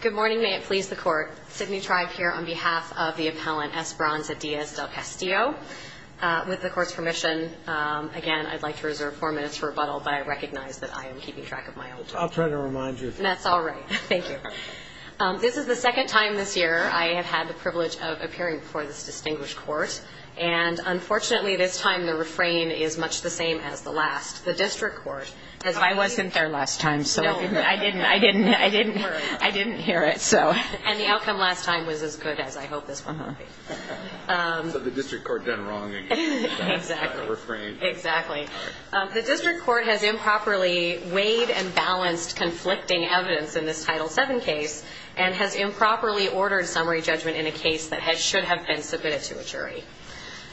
Good morning. May it please the court. Sidney Tribe here on behalf of the appellant, Esperanza Diaz del Castillo. With the court's permission, again, I'd like to reserve four minutes for rebuttal, but I recognize that I am keeping track of my own time. I'll try to remind you. That's all right. Thank you. This is the second time this year I have had the privilege of appearing before this distinguished court. And unfortunately, this time, the refrain is much the same as the last. The district court has received. I wasn't there last time, so I didn't worry. I didn't hear it, so. And the outcome last time was as good as I hope this one will be. So the district court done wrong again. Exactly. By the refrain. Exactly. The district court has improperly weighed and balanced conflicting evidence in this Title VII case and has improperly ordered summary judgment in a case that should have been submitted to a jury.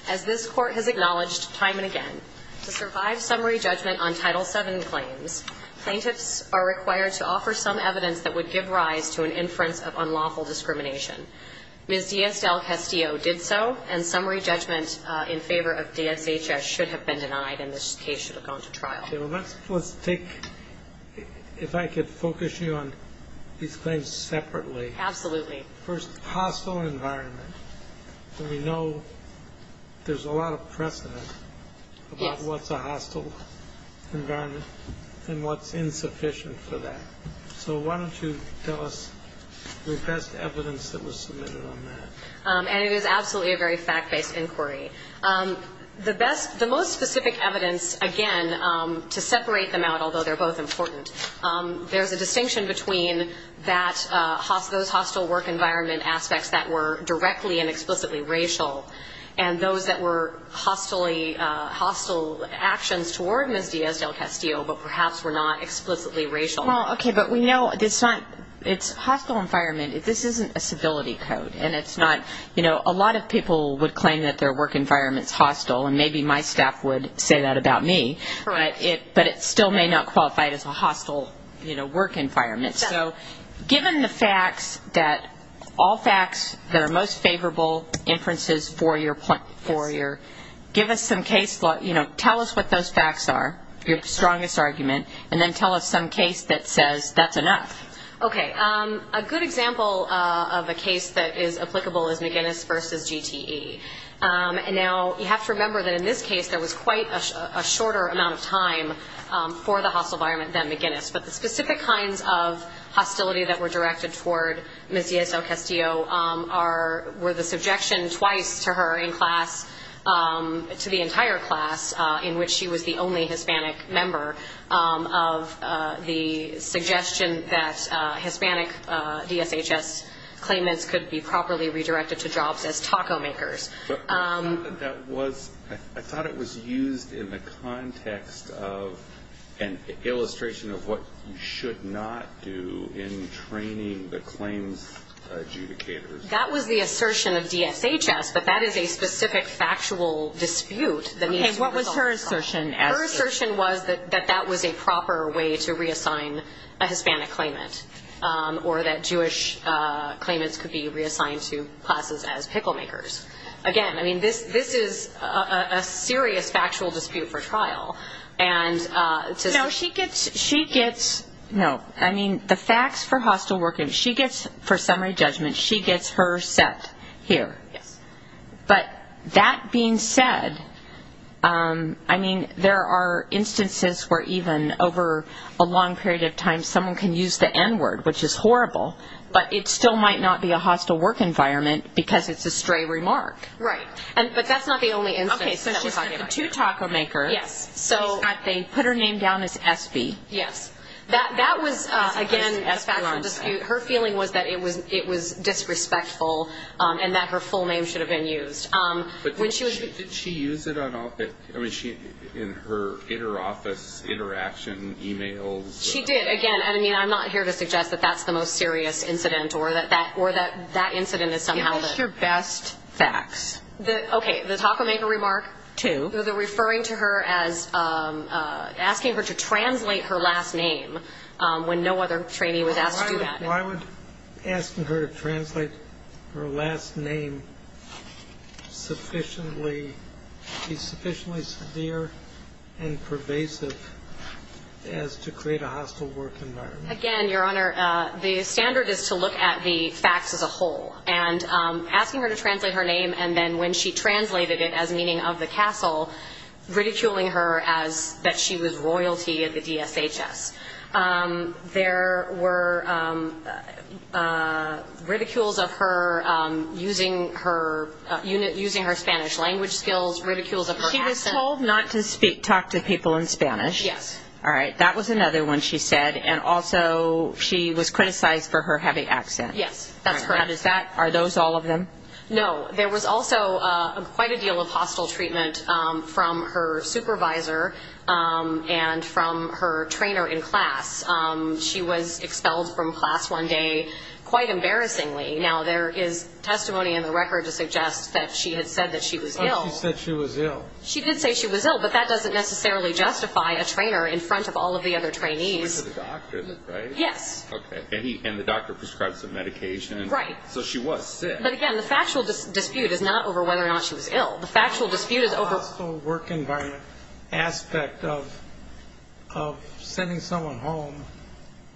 As this court has acknowledged time and again, to survive summary judgment on Title VII claims, plaintiffs are required to offer some evidence that would give rise to an inference of unlawful discrimination. Ms. Diaz del Castillo did so, and summary judgment in favor of DSHS should have been denied, and this case should have gone to trial. Let's take, if I could focus you on these claims separately. Absolutely. First, hostile environment. We know there's a lot of precedent about what's a hostile environment and what's insufficient for that. So why don't you tell us the best evidence that was submitted on that? And it is absolutely a very fact-based inquiry. The most specific evidence, again, to separate them out, although they're both important, there's a distinction between those hostile work environment aspects that were directly and explicitly racial and those that were hostile actions toward Ms. Diaz del Castillo, but perhaps were not explicitly racial. But we know it's a hostile environment. This isn't a civility code, and a lot of people would claim that their work environment's hostile, and maybe my staff would say that about me, but it still may not qualify as a hostile work environment. So given the facts, all facts that are most favorable inferences for your, give us some case law. Tell us what those facts are, your strongest argument, and then tell us some case that says that's enough. OK. A good example of a case that is applicable is McGinnis versus GTE. And now, you have to remember that in this case, there was quite a shorter amount of time for the hostile environment than McGinnis. But the specific kinds of hostility that were directed toward Ms. Diaz del Castillo were the subjection twice to her in class, to the entire class, in which she was the only Hispanic member, of the suggestion that Hispanic DSHS claimants could be properly redirected to jobs as taco makers. That was, I thought it was used in the context of an illustration of what you should not do in training the claims adjudicators. That was the assertion of DSHS, but that is a specific factual dispute that needs to be resolved. Her assertion was that that was a proper way to reassign a Hispanic claimant, or that Jewish claimants could be reassigned to classes as pickle makers. Again, I mean, this is a serious factual dispute for trial. And so she gets, no, I mean, the facts for hostile working, she gets, for summary judgment, she gets her set here. But that being said, I mean, there are instances where even over a long period of time, someone can use the N-word, which is horrible, but it still might not be a hostile work environment because it's a stray remark. Right, but that's not the only instance that we're talking about. OK, so she's the two taco makers, so they put her name down as Espy. Yes, that was, again, a factual dispute. Her feeling was that it was disrespectful, and that her full name should have been used. But did she use it in her office interaction emails? She did, again, and I mean, I'm not here to suggest that that's the most serious incident, or that that incident is somehow the best facts. OK, the taco maker remark, two, they're referring to her as asking her to translate her last name when no other trainee was asked to do that. Why would asking her to translate her last name be sufficiently severe and pervasive as to create a hostile work environment? Again, Your Honor, the standard is to look at the facts as a whole. And asking her to translate her name, and then when she translated it as meaning of the castle, ridiculing her as that she was royalty at the DSHS. There were ridicules of her using her Spanish language skills, ridicules of her accent. She was told not to speak, talk to people in Spanish. Yes. All right, that was another one she said. And also, she was criticized for her heavy accent. Yes, that's correct. Are those all of them? No, there was also quite a deal of hostile treatment from her supervisor and from her trainer in class. She was expelled from class one day, quite embarrassingly. Now, there is testimony in the record to suggest that she had said that she was ill. Oh, she said she was ill. She did say she was ill, but that doesn't necessarily justify a trainer in front of all of the other trainees. She went to the doctor, is that right? Yes. OK, and the doctor prescribed some medication. Right. So she was sick. But again, the factual dispute is not over whether or not she was ill. The factual dispute is over. The hostile work environment aspect of sending someone home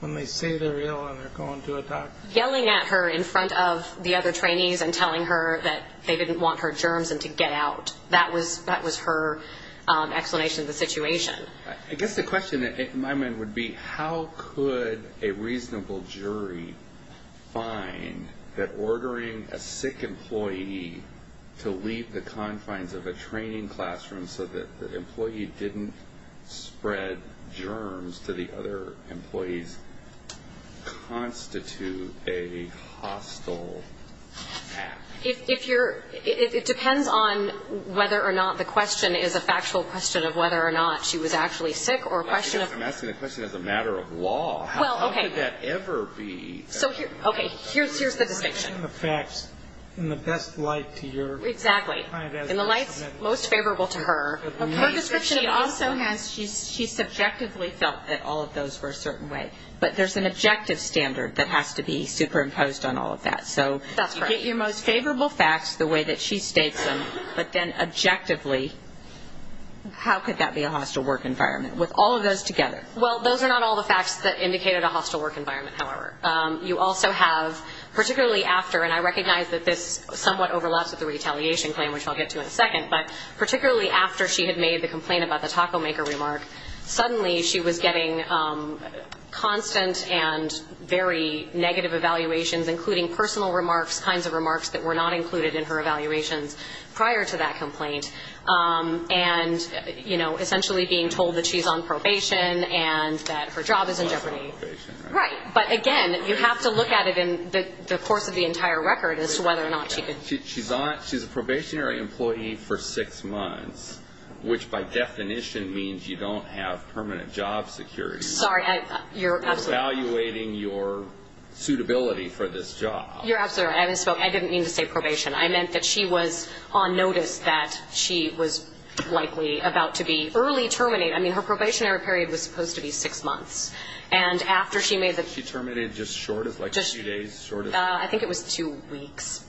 when they say they're ill and they're going to a doctor. Yelling at her in front of the other trainees and telling her that they didn't want her germs and to get out. That was her explanation of the situation. I guess the question in my mind would be, how could a reasonable jury find that ordering a sick employee to leave the confines of a training classroom so that the employee didn't spread germs to the other employees constitute a hostile act? If you're, it depends on whether or not the question is a factual question of whether or not she was actually sick or a question of. I'm asking the question as a matter of law. Well, OK. How could that ever be? OK. Here's the distinction. The facts in the best light to your client. Exactly. In the lights most favorable to her. Her description also has, she subjectively felt that all of those were a certain way. But there's an objective standard that has to be superimposed on all of that. So you get your most favorable facts the way that she states them. But then objectively, how could that be a hostile work environment? With all of those together. Well, those are not all the facts that indicated a hostile work environment, however. You also have, particularly after, and I recognize that this somewhat overlaps with the retaliation claim, which I'll get to in a second. But particularly after she had made the complaint about the taco maker remark, suddenly she was getting constant and very negative evaluations, including personal remarks, kinds of remarks that were not included in her evaluations prior to that complaint. And essentially being told that she's on probation and that her job is in jeopardy. She's on probation, right? But again, you have to look at it in the course of the entire record as to whether or not she could. She's a probationary employee for six months, which by definition means you don't have permanent job security. Sorry, you're absolutely right. Evaluating your suitability for this job. You're absolutely right. I didn't mean to say probation. I meant that she was on notice that she was likely about to be early terminated. I mean, her probationary period was supposed to be six months. And after she made the- She terminated just short of, like a few days short of? I think it was two weeks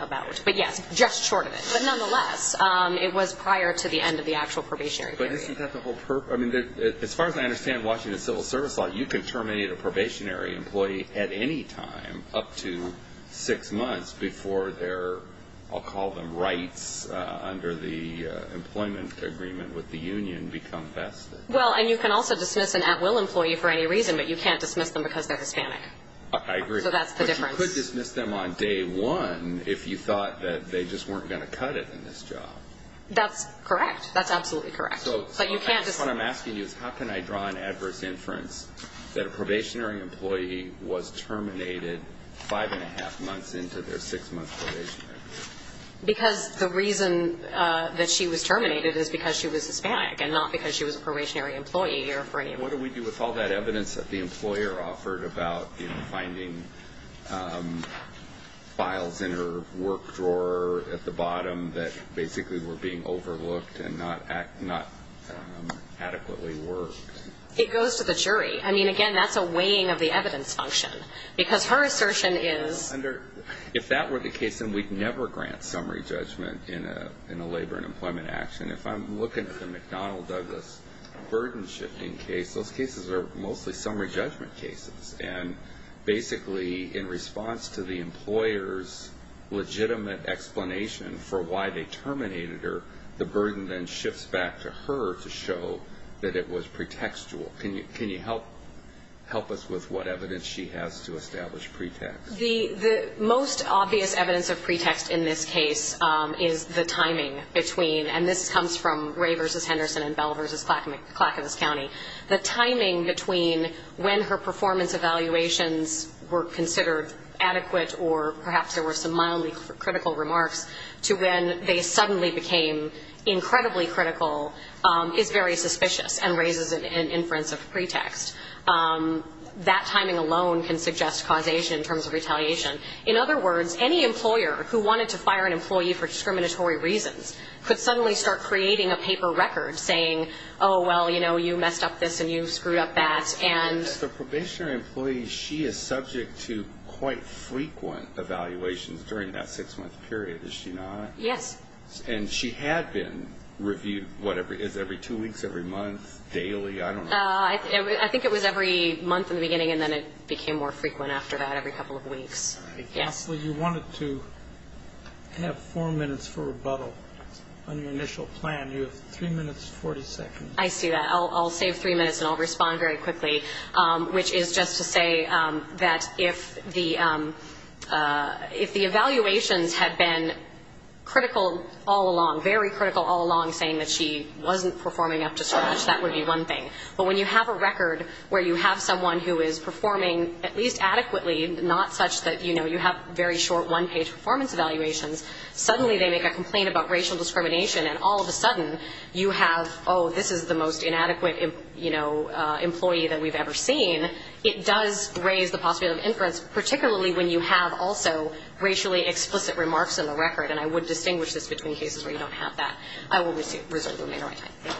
about. But yes, just short of it. But nonetheless, it was prior to the end of the actual probationary period. But isn't that the whole purpose? I mean, as far as I understand Washington civil service law, you can terminate a probationary employee at any time up to six months before their, I'll call them rights under the employment agreement with the union become vested. Well, and you can also dismiss an at-will employee for any reason. But you can't dismiss them because they're Hispanic. I agree. So that's the difference. But you could dismiss them on day one if you thought that they just weren't going to cut it in this job. That's correct. That's absolutely correct. But you can't dismiss them. So what I'm asking you is how can I draw an adverse inference that a probationary employee was terminated five and a half months into their six month probationary period? Because the reason that she was terminated is because she was Hispanic and not because she was a probationary employee. What do we do with all that evidence that the employer offered about finding files in her work drawer at the bottom that basically were being overlooked and not adequately worked? It goes to the jury. I mean, again, that's a weighing of the evidence function. Because her assertion is. If that were the case, then we'd never grant summary judgment in a labor and employment action. If I'm looking at the McDonnell-Douglas burden shifting case, those cases are mostly summary judgment cases. And basically, in response to the employer's legitimate explanation for why they terminated her, the burden then shifts back to her to show that it was pretextual. Can you help us with what evidence she has to establish pretext? The most obvious evidence of pretext in this case is the timing between. And this comes from Ray versus Henderson and Bell versus Clackamas County. The timing between when her performance evaluations were considered adequate or perhaps there were some mildly critical remarks to when they suddenly became incredibly critical is very suspicious and raises an inference of pretext. That timing alone can suggest causation in terms of retaliation. In other words, any employer who wanted to fire an employee for discriminatory reasons could suddenly start creating a paper record, saying, oh, well, you messed up this and you screwed up that. And as the probationary employee, she is subject to quite frequent evaluations during that six-month period, is she not? Yes. And she had been reviewed, whatever, is every two weeks, every month, daily? I don't know. I think it was every month in the beginning and then it became more frequent after that, every couple of weeks. Counselor, you wanted to have four minutes for rebuttal on your initial plan. You have three minutes, 40 seconds. I see that. I'll save three minutes and I'll respond very quickly, which is just to say that if the evaluations had been critical all along, very critical all along, saying that she wasn't performing up to scratch, that would be one thing. But when you have a record where you have someone who is performing at least adequately, not such that you have very short one-page performance evaluations, suddenly they make a complaint about racial discrimination and all of a sudden you have, oh, this is the most inadequate employee that we've ever seen, it does raise the possibility of inference, particularly when you have also racially explicit remarks in the record. And I would distinguish this between cases where you don't have that. I will reserve the remainder of my time. Thank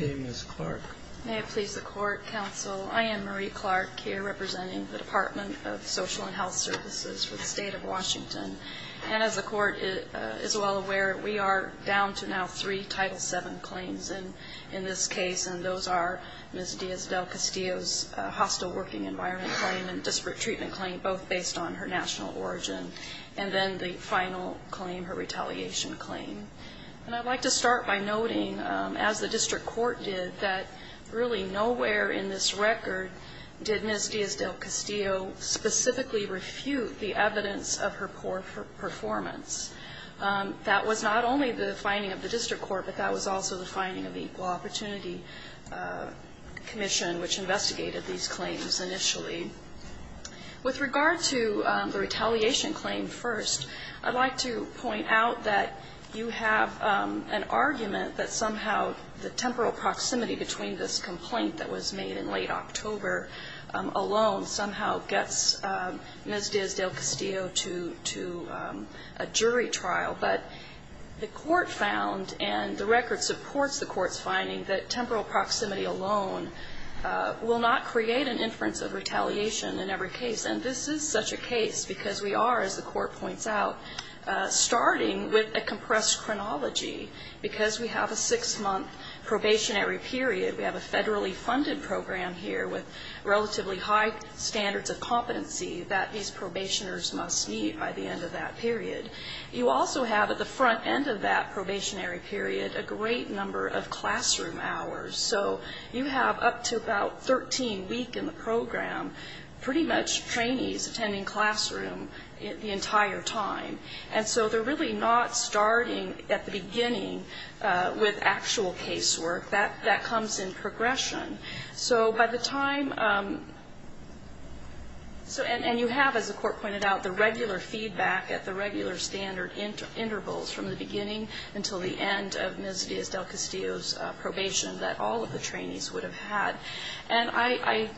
you. Okay, Ms. Clark. May it please the court, counsel. I am Marie Clark here representing the Department of Social and Health Services for the state of Washington. And as the court is well aware, we are down to now three Title VII claims in this case, and those are Ms. Diaz-Del-Castillo's hostile working environment claim and disparate treatment claim, both based on her national origin, and then the final claim, her retaliation claim. And I'd like to start by noting, as the district court did, that really nowhere in this record did Ms. Diaz-Del-Castillo specifically refute the evidence of her poor performance. That was not only the finding of the district court, but that was also the finding of the Equal Opportunity Commission, which investigated these claims initially. With regard to the retaliation claim first, I'd like to point out that you have an argument that somehow the temporal proximity between this complaint that was made in late October alone somehow gets Ms. Diaz-Del-Castillo to a jury trial. But the court found, and the record supports the court's finding, that temporal proximity alone will not create an inference of retaliation in every case. And this is such a case because we are, as the court points out, starting with a compressed chronology because we have a six-month probationary period. We have a federally funded program here with relatively high standards of competency that these probationers must meet by the end of that period. You also have, at the front end of that probationary period, a great number of classroom hours. So you have up to about 13-week in the program, pretty much trainees attending classroom the entire time. And so they're really not starting at the beginning with actual casework. That comes in progression. So by the time, and you have, as the court pointed out, the regular feedback at the regular standard intervals from the beginning until the end of Ms. Diaz-Del-Castillo's probation that all of the trainees would have had. And I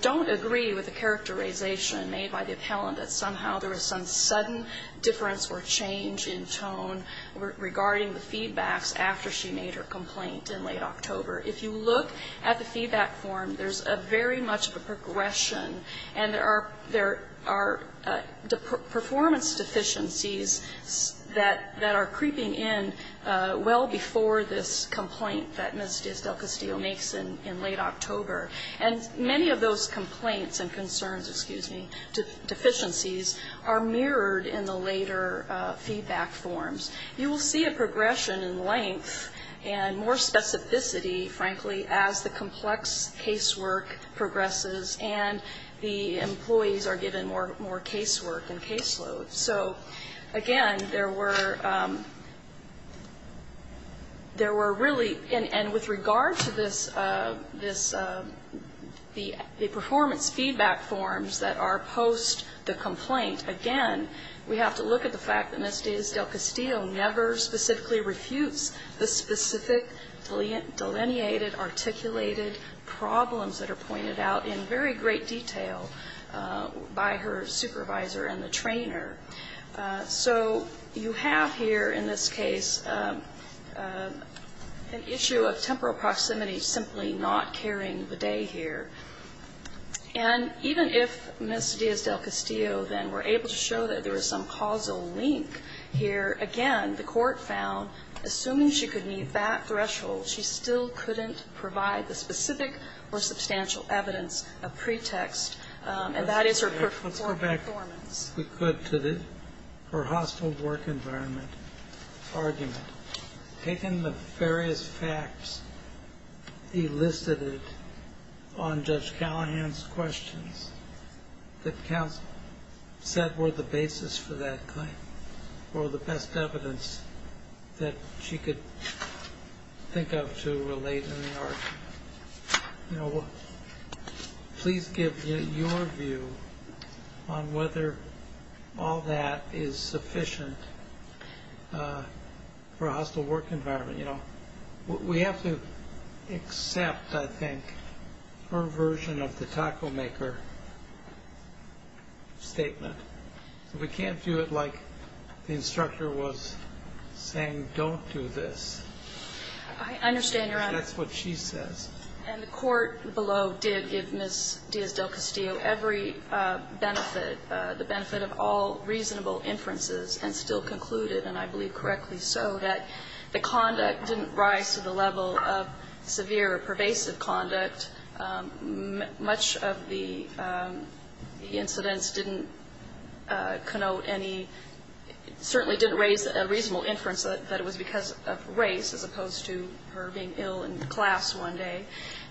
don't agree with the characterization made by the appellant that somehow there was some sudden difference or change in tone regarding the feedbacks after she made her complaint in late October. If you look at the feedback form, there's a very much of a progression. And there are performance deficiencies that are creeping in well before this complaint that Ms. Diaz-Del-Castillo makes in late October. And many of those complaints and concerns, excuse me, deficiencies are mirrored in the later feedback forms. You will see a progression in length and more specificity, frankly, as the complex casework progresses and the employees are given more casework and caseload. So again, there were, there were really, and with regard to this, the performance feedback forms that are post the complaint, again, we have to look at the fact that Ms. Diaz-Del-Castillo never specifically refutes the specific delineated, articulated problems that are pointed out in very great detail by her supervisor and the trainer. So you have here in this case an issue of temporal proximity simply not carrying the day here. And even if Ms. Diaz-Del-Castillo then were able to show that there was some causal link here, again, the court found, assuming she could meet that threshold, she still couldn't provide the specific or substantial evidence of pretext. And that is her performance. We could to the, her hostile work environment argument. Taking the various facts, he listed it on Judge Callahan's questions that counsel said were the basis for that claim or the best evidence that she could think of to relate in the argument. You know, please give your view on whether all that is sufficient for a hostile work environment. We have to accept, I think, her version of the taco maker statement. We can't do it like the instructor was saying, don't do this. I understand, Your Honor. That's what she says. And the court below did give Ms. Diaz-Del-Castillo every benefit, the benefit of all reasonable inferences and still concluded, and I believe correctly so, that the conduct didn't rise to the level of severe or pervasive conduct. Much of the incidents didn't connote any, certainly didn't raise a reasonable inference that it was because of race as opposed to her being ill in class one day.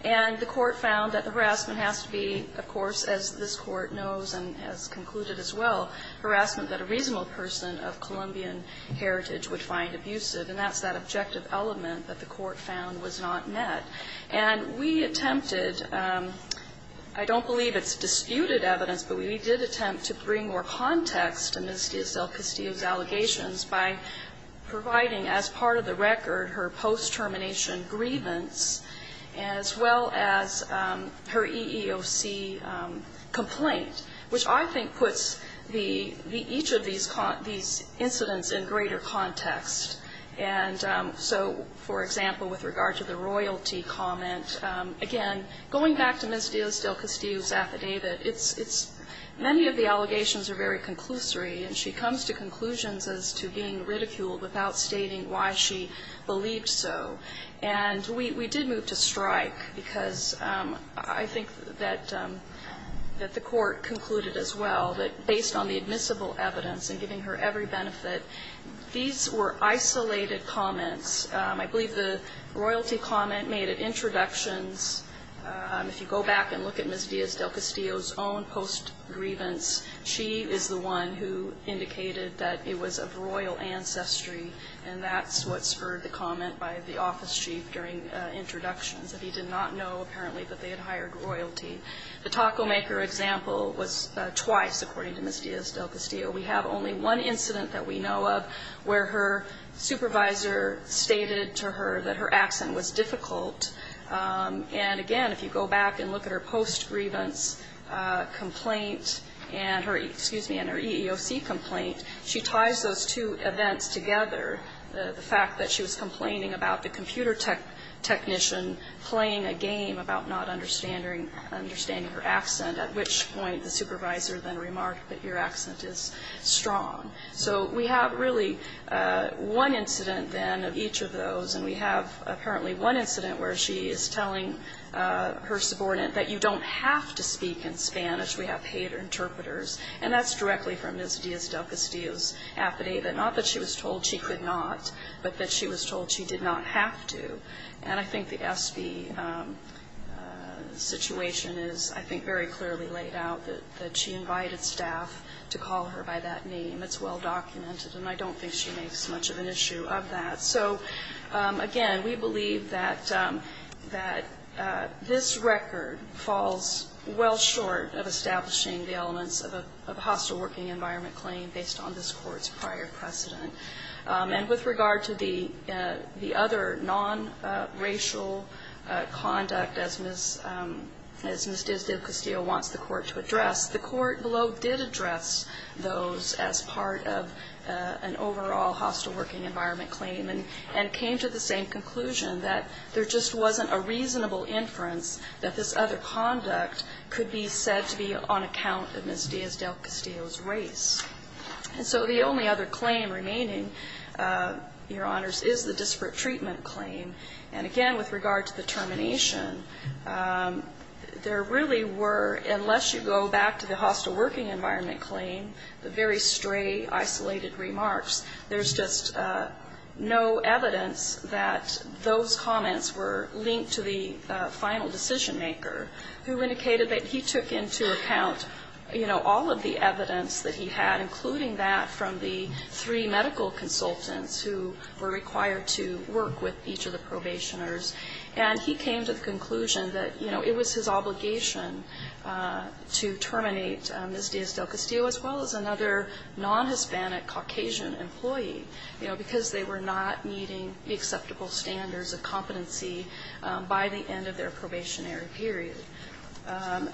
And the court found that the harassment has to be, of course, as this court knows and has concluded as well, harassment that a reasonable person of Colombian heritage would find abusive. And that's that objective element that the court found was not met. And we attempted, I don't believe it's disputed evidence, but we did attempt to bring more context to Ms. Diaz-Del-Castillo's allegations by providing as part of the record her post-termination grievance as well as her EEOC complaint, which I think puts each of these incidents in greater context. And so, for example, with regard to the royalty comment, again, going back to Ms. Diaz-Del-Castillo's affidavit, many of the allegations are very conclusory and she comes to conclusions as to being ridiculed without stating why she believed so. And we did move to strike because I think that the court concluded as well that based on the admissible evidence and giving her every benefit, these were isolated comments. I believe the royalty comment made it introductions. If you go back and look at Ms. Diaz-Del-Castillo's own post-grievance, she is the one who indicated that it was of royal ancestry and that's what spurred the comment by the office chief during introductions that he did not know, apparently, that they had hired royalty. The taco maker example was twice, according to Ms. Diaz-Del-Castillo. We have only one incident that we know of where her supervisor stated to her that her accent was difficult. And again, if you go back and look at her post-grievance complaint and her, excuse me, and her EEOC complaint, she ties those two events together. The fact that she was complaining about the computer technician playing a game about not understanding her accent, at which point the supervisor then remarked that your accent is strong. So we have really one incident then of each of those. And we have apparently one incident where she is telling her subordinate that you don't have to speak in Spanish. We have paid interpreters. And that's directly from Ms. Diaz-Del-Castillo's affidavit. Not that she was told she could not, but that she was told she did not have to. And I think the SB situation is, I think, very clearly laid out that she invited staff to call her by that name. It's well-documented and I don't think she makes much of an issue of that. So again, we believe that this record, falls well short of establishing the elements of a hostile working environment claim based on this court's prior precedent. And with regard to the other non-racial conduct, as Ms. Diaz-Del-Castillo wants the court to address, the court below did address those as part of an overall hostile working environment claim and came to the same conclusion that there just wasn't a reasonable inference that this other conduct could be said to be on account of Ms. Diaz-Del-Castillo's race. And so the only other claim remaining, Your Honors, is the disparate treatment claim. And again, with regard to the termination, there really were, unless you go back to the hostile working environment claim, the very stray, isolated remarks, there's just no evidence that those comments were linked to the final decision maker who indicated that he took into account all of the evidence that he had, including that from the three medical consultants who were required to work with each of the probationers. And he came to the conclusion that it was his obligation to terminate Ms. Diaz-Del-Castillo as well as another non-Hispanic Caucasian employee, because they were not meeting the acceptable standards of competency by the end of their probationary period.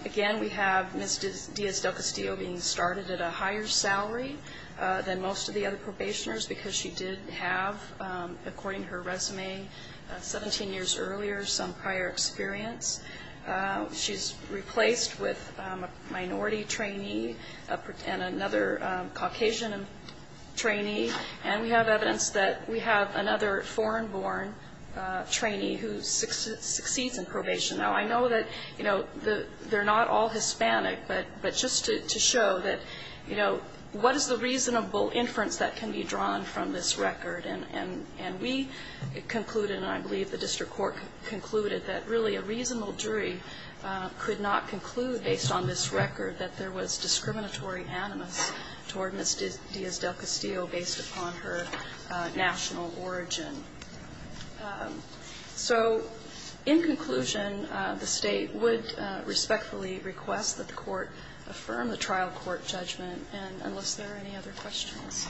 Again, we have Ms. Diaz-Del-Castillo being started at a higher salary than most of the other probationers because she did have, according to her resume, 17 years earlier, some prior experience. She's replaced with a minority trainee and another Caucasian trainee. And we have evidence that we have another foreign-born trainee who succeeds in probation. Now, I know that they're not all Hispanic, but just to show that what is the reasonable inference that can be drawn from this record? And we concluded, and I believe the district court concluded that really a reasonable jury could not conclude, based on this record, that there was discriminatory animus toward Ms. Diaz-Del-Castillo, based upon her national origin. So, in conclusion, the state would respectfully request that the court affirm the trial court judgment, and unless there are any other questions.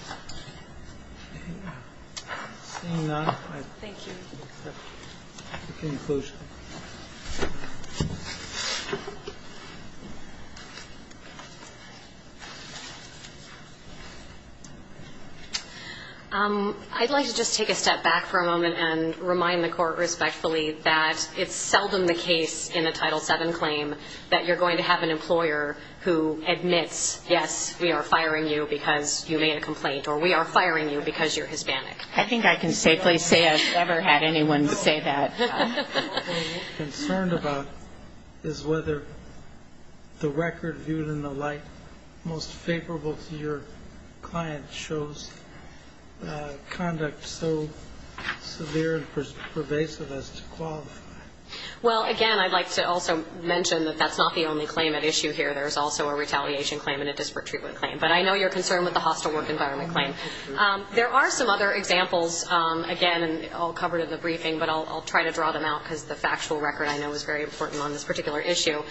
Seeing none, I accept the conclusion. I'd like to just take a step back for a moment and remind the court respectfully that it's seldom the case in a Title VII claim that you're going to have an employer who admits, yes, we are firing you because you made a complaint, or we are firing you because you're Hispanic. I think I can safely say I've never had anyone say that. What we're concerned about is whether the record viewed in the light, most favorable to your client, shows conduct so severe and pervasive as to qualify. Well, again, I'd like to also mention that that's not the only claim at issue here. There's also a retaliation claim and a disparate treatment claim, but I know you're concerned with the hostile work environment claim. There are some other examples, again, and all covered in the briefing, but I'll try to draw them out because the factual record, I know, is very important on this particular issue.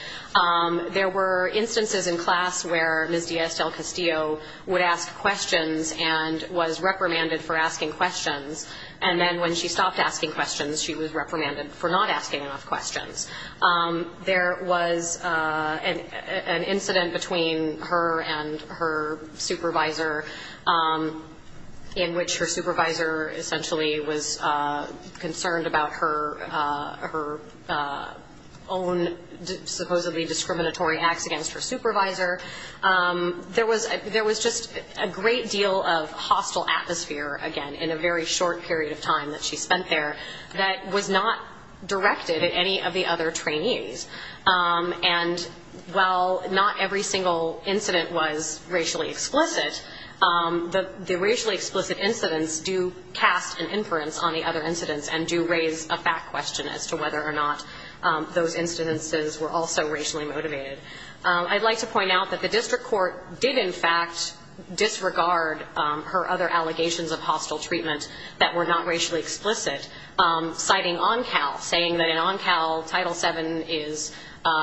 There were instances in class where Ms. Diaz del Castillo would ask questions and was reprimanded for asking questions, and then when she stopped asking questions, she was reprimanded for not asking enough questions. There was an incident between her and her supervisor in which her supervisor essentially was concerned about her own supposedly discriminatory acts against her supervisor. There was just a great deal of hostile atmosphere, again, in a very short period of time that she spent there that was not directed at any of the other trainees. And while not every single incident was racially explicit, the racially explicit incidents do cast an inference on the other incidents and do raise a fact question as to whether or not those instances were also racially motivated. I'd like to point out that the district court did, in fact, disregard her other allegations of hostile treatment that were not racially explicit, citing ONCAL, saying that in ONCAL, Title VII is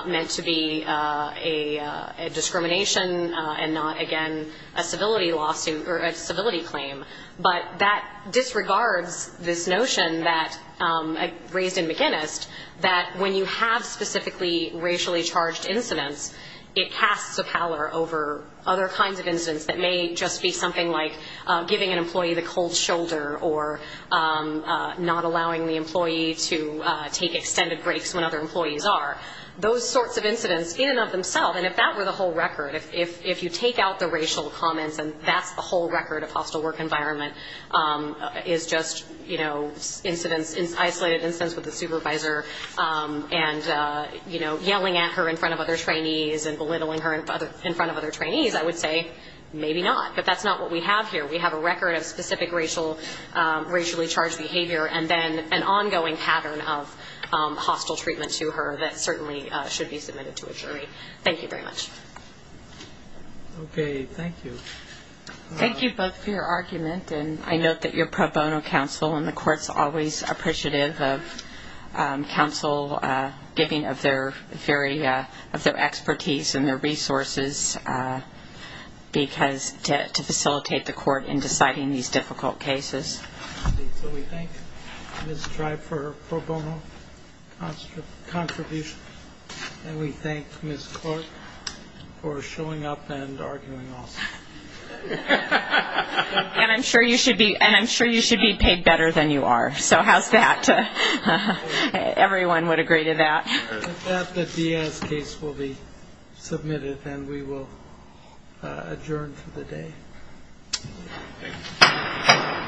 meant to be a discrimination and not, again, a civility lawsuit or a civility claim. But that disregards this notion raised in McInnis, that when you have specifically racially charged incidents, it casts a pallor over other kinds of incidents that may just be something like giving an employee the cold shoulder or not allowing the employee to take extended breaks when other employees are. Those sorts of incidents in and of themselves, and if that were the whole record, if you take out the racial comments and that's the whole record of hostile work environment, is just isolated incidents with a supervisor and yelling at her in front of other trainees and belittling her in front of other trainees, I would say maybe not, but that's not what we have here. We have a record of specific racially charged behavior and then an ongoing pattern of hostile treatment to her that certainly should be submitted to a jury. Thank you very much. OK. Thank you. Thank you both for your argument, and I note that you're pro bono counsel, and the court's always appreciative of counsel giving of their expertise and their resources to facilitate the court in deciding these difficult cases. So we thank Ms. Drive for her pro bono contribution, and we thank Ms. Clark for showing up and arguing also. And I'm sure you should be paid better than you are, so how's that? Everyone would agree to that. The Diaz case will be submitted, and we will adjourn for the day.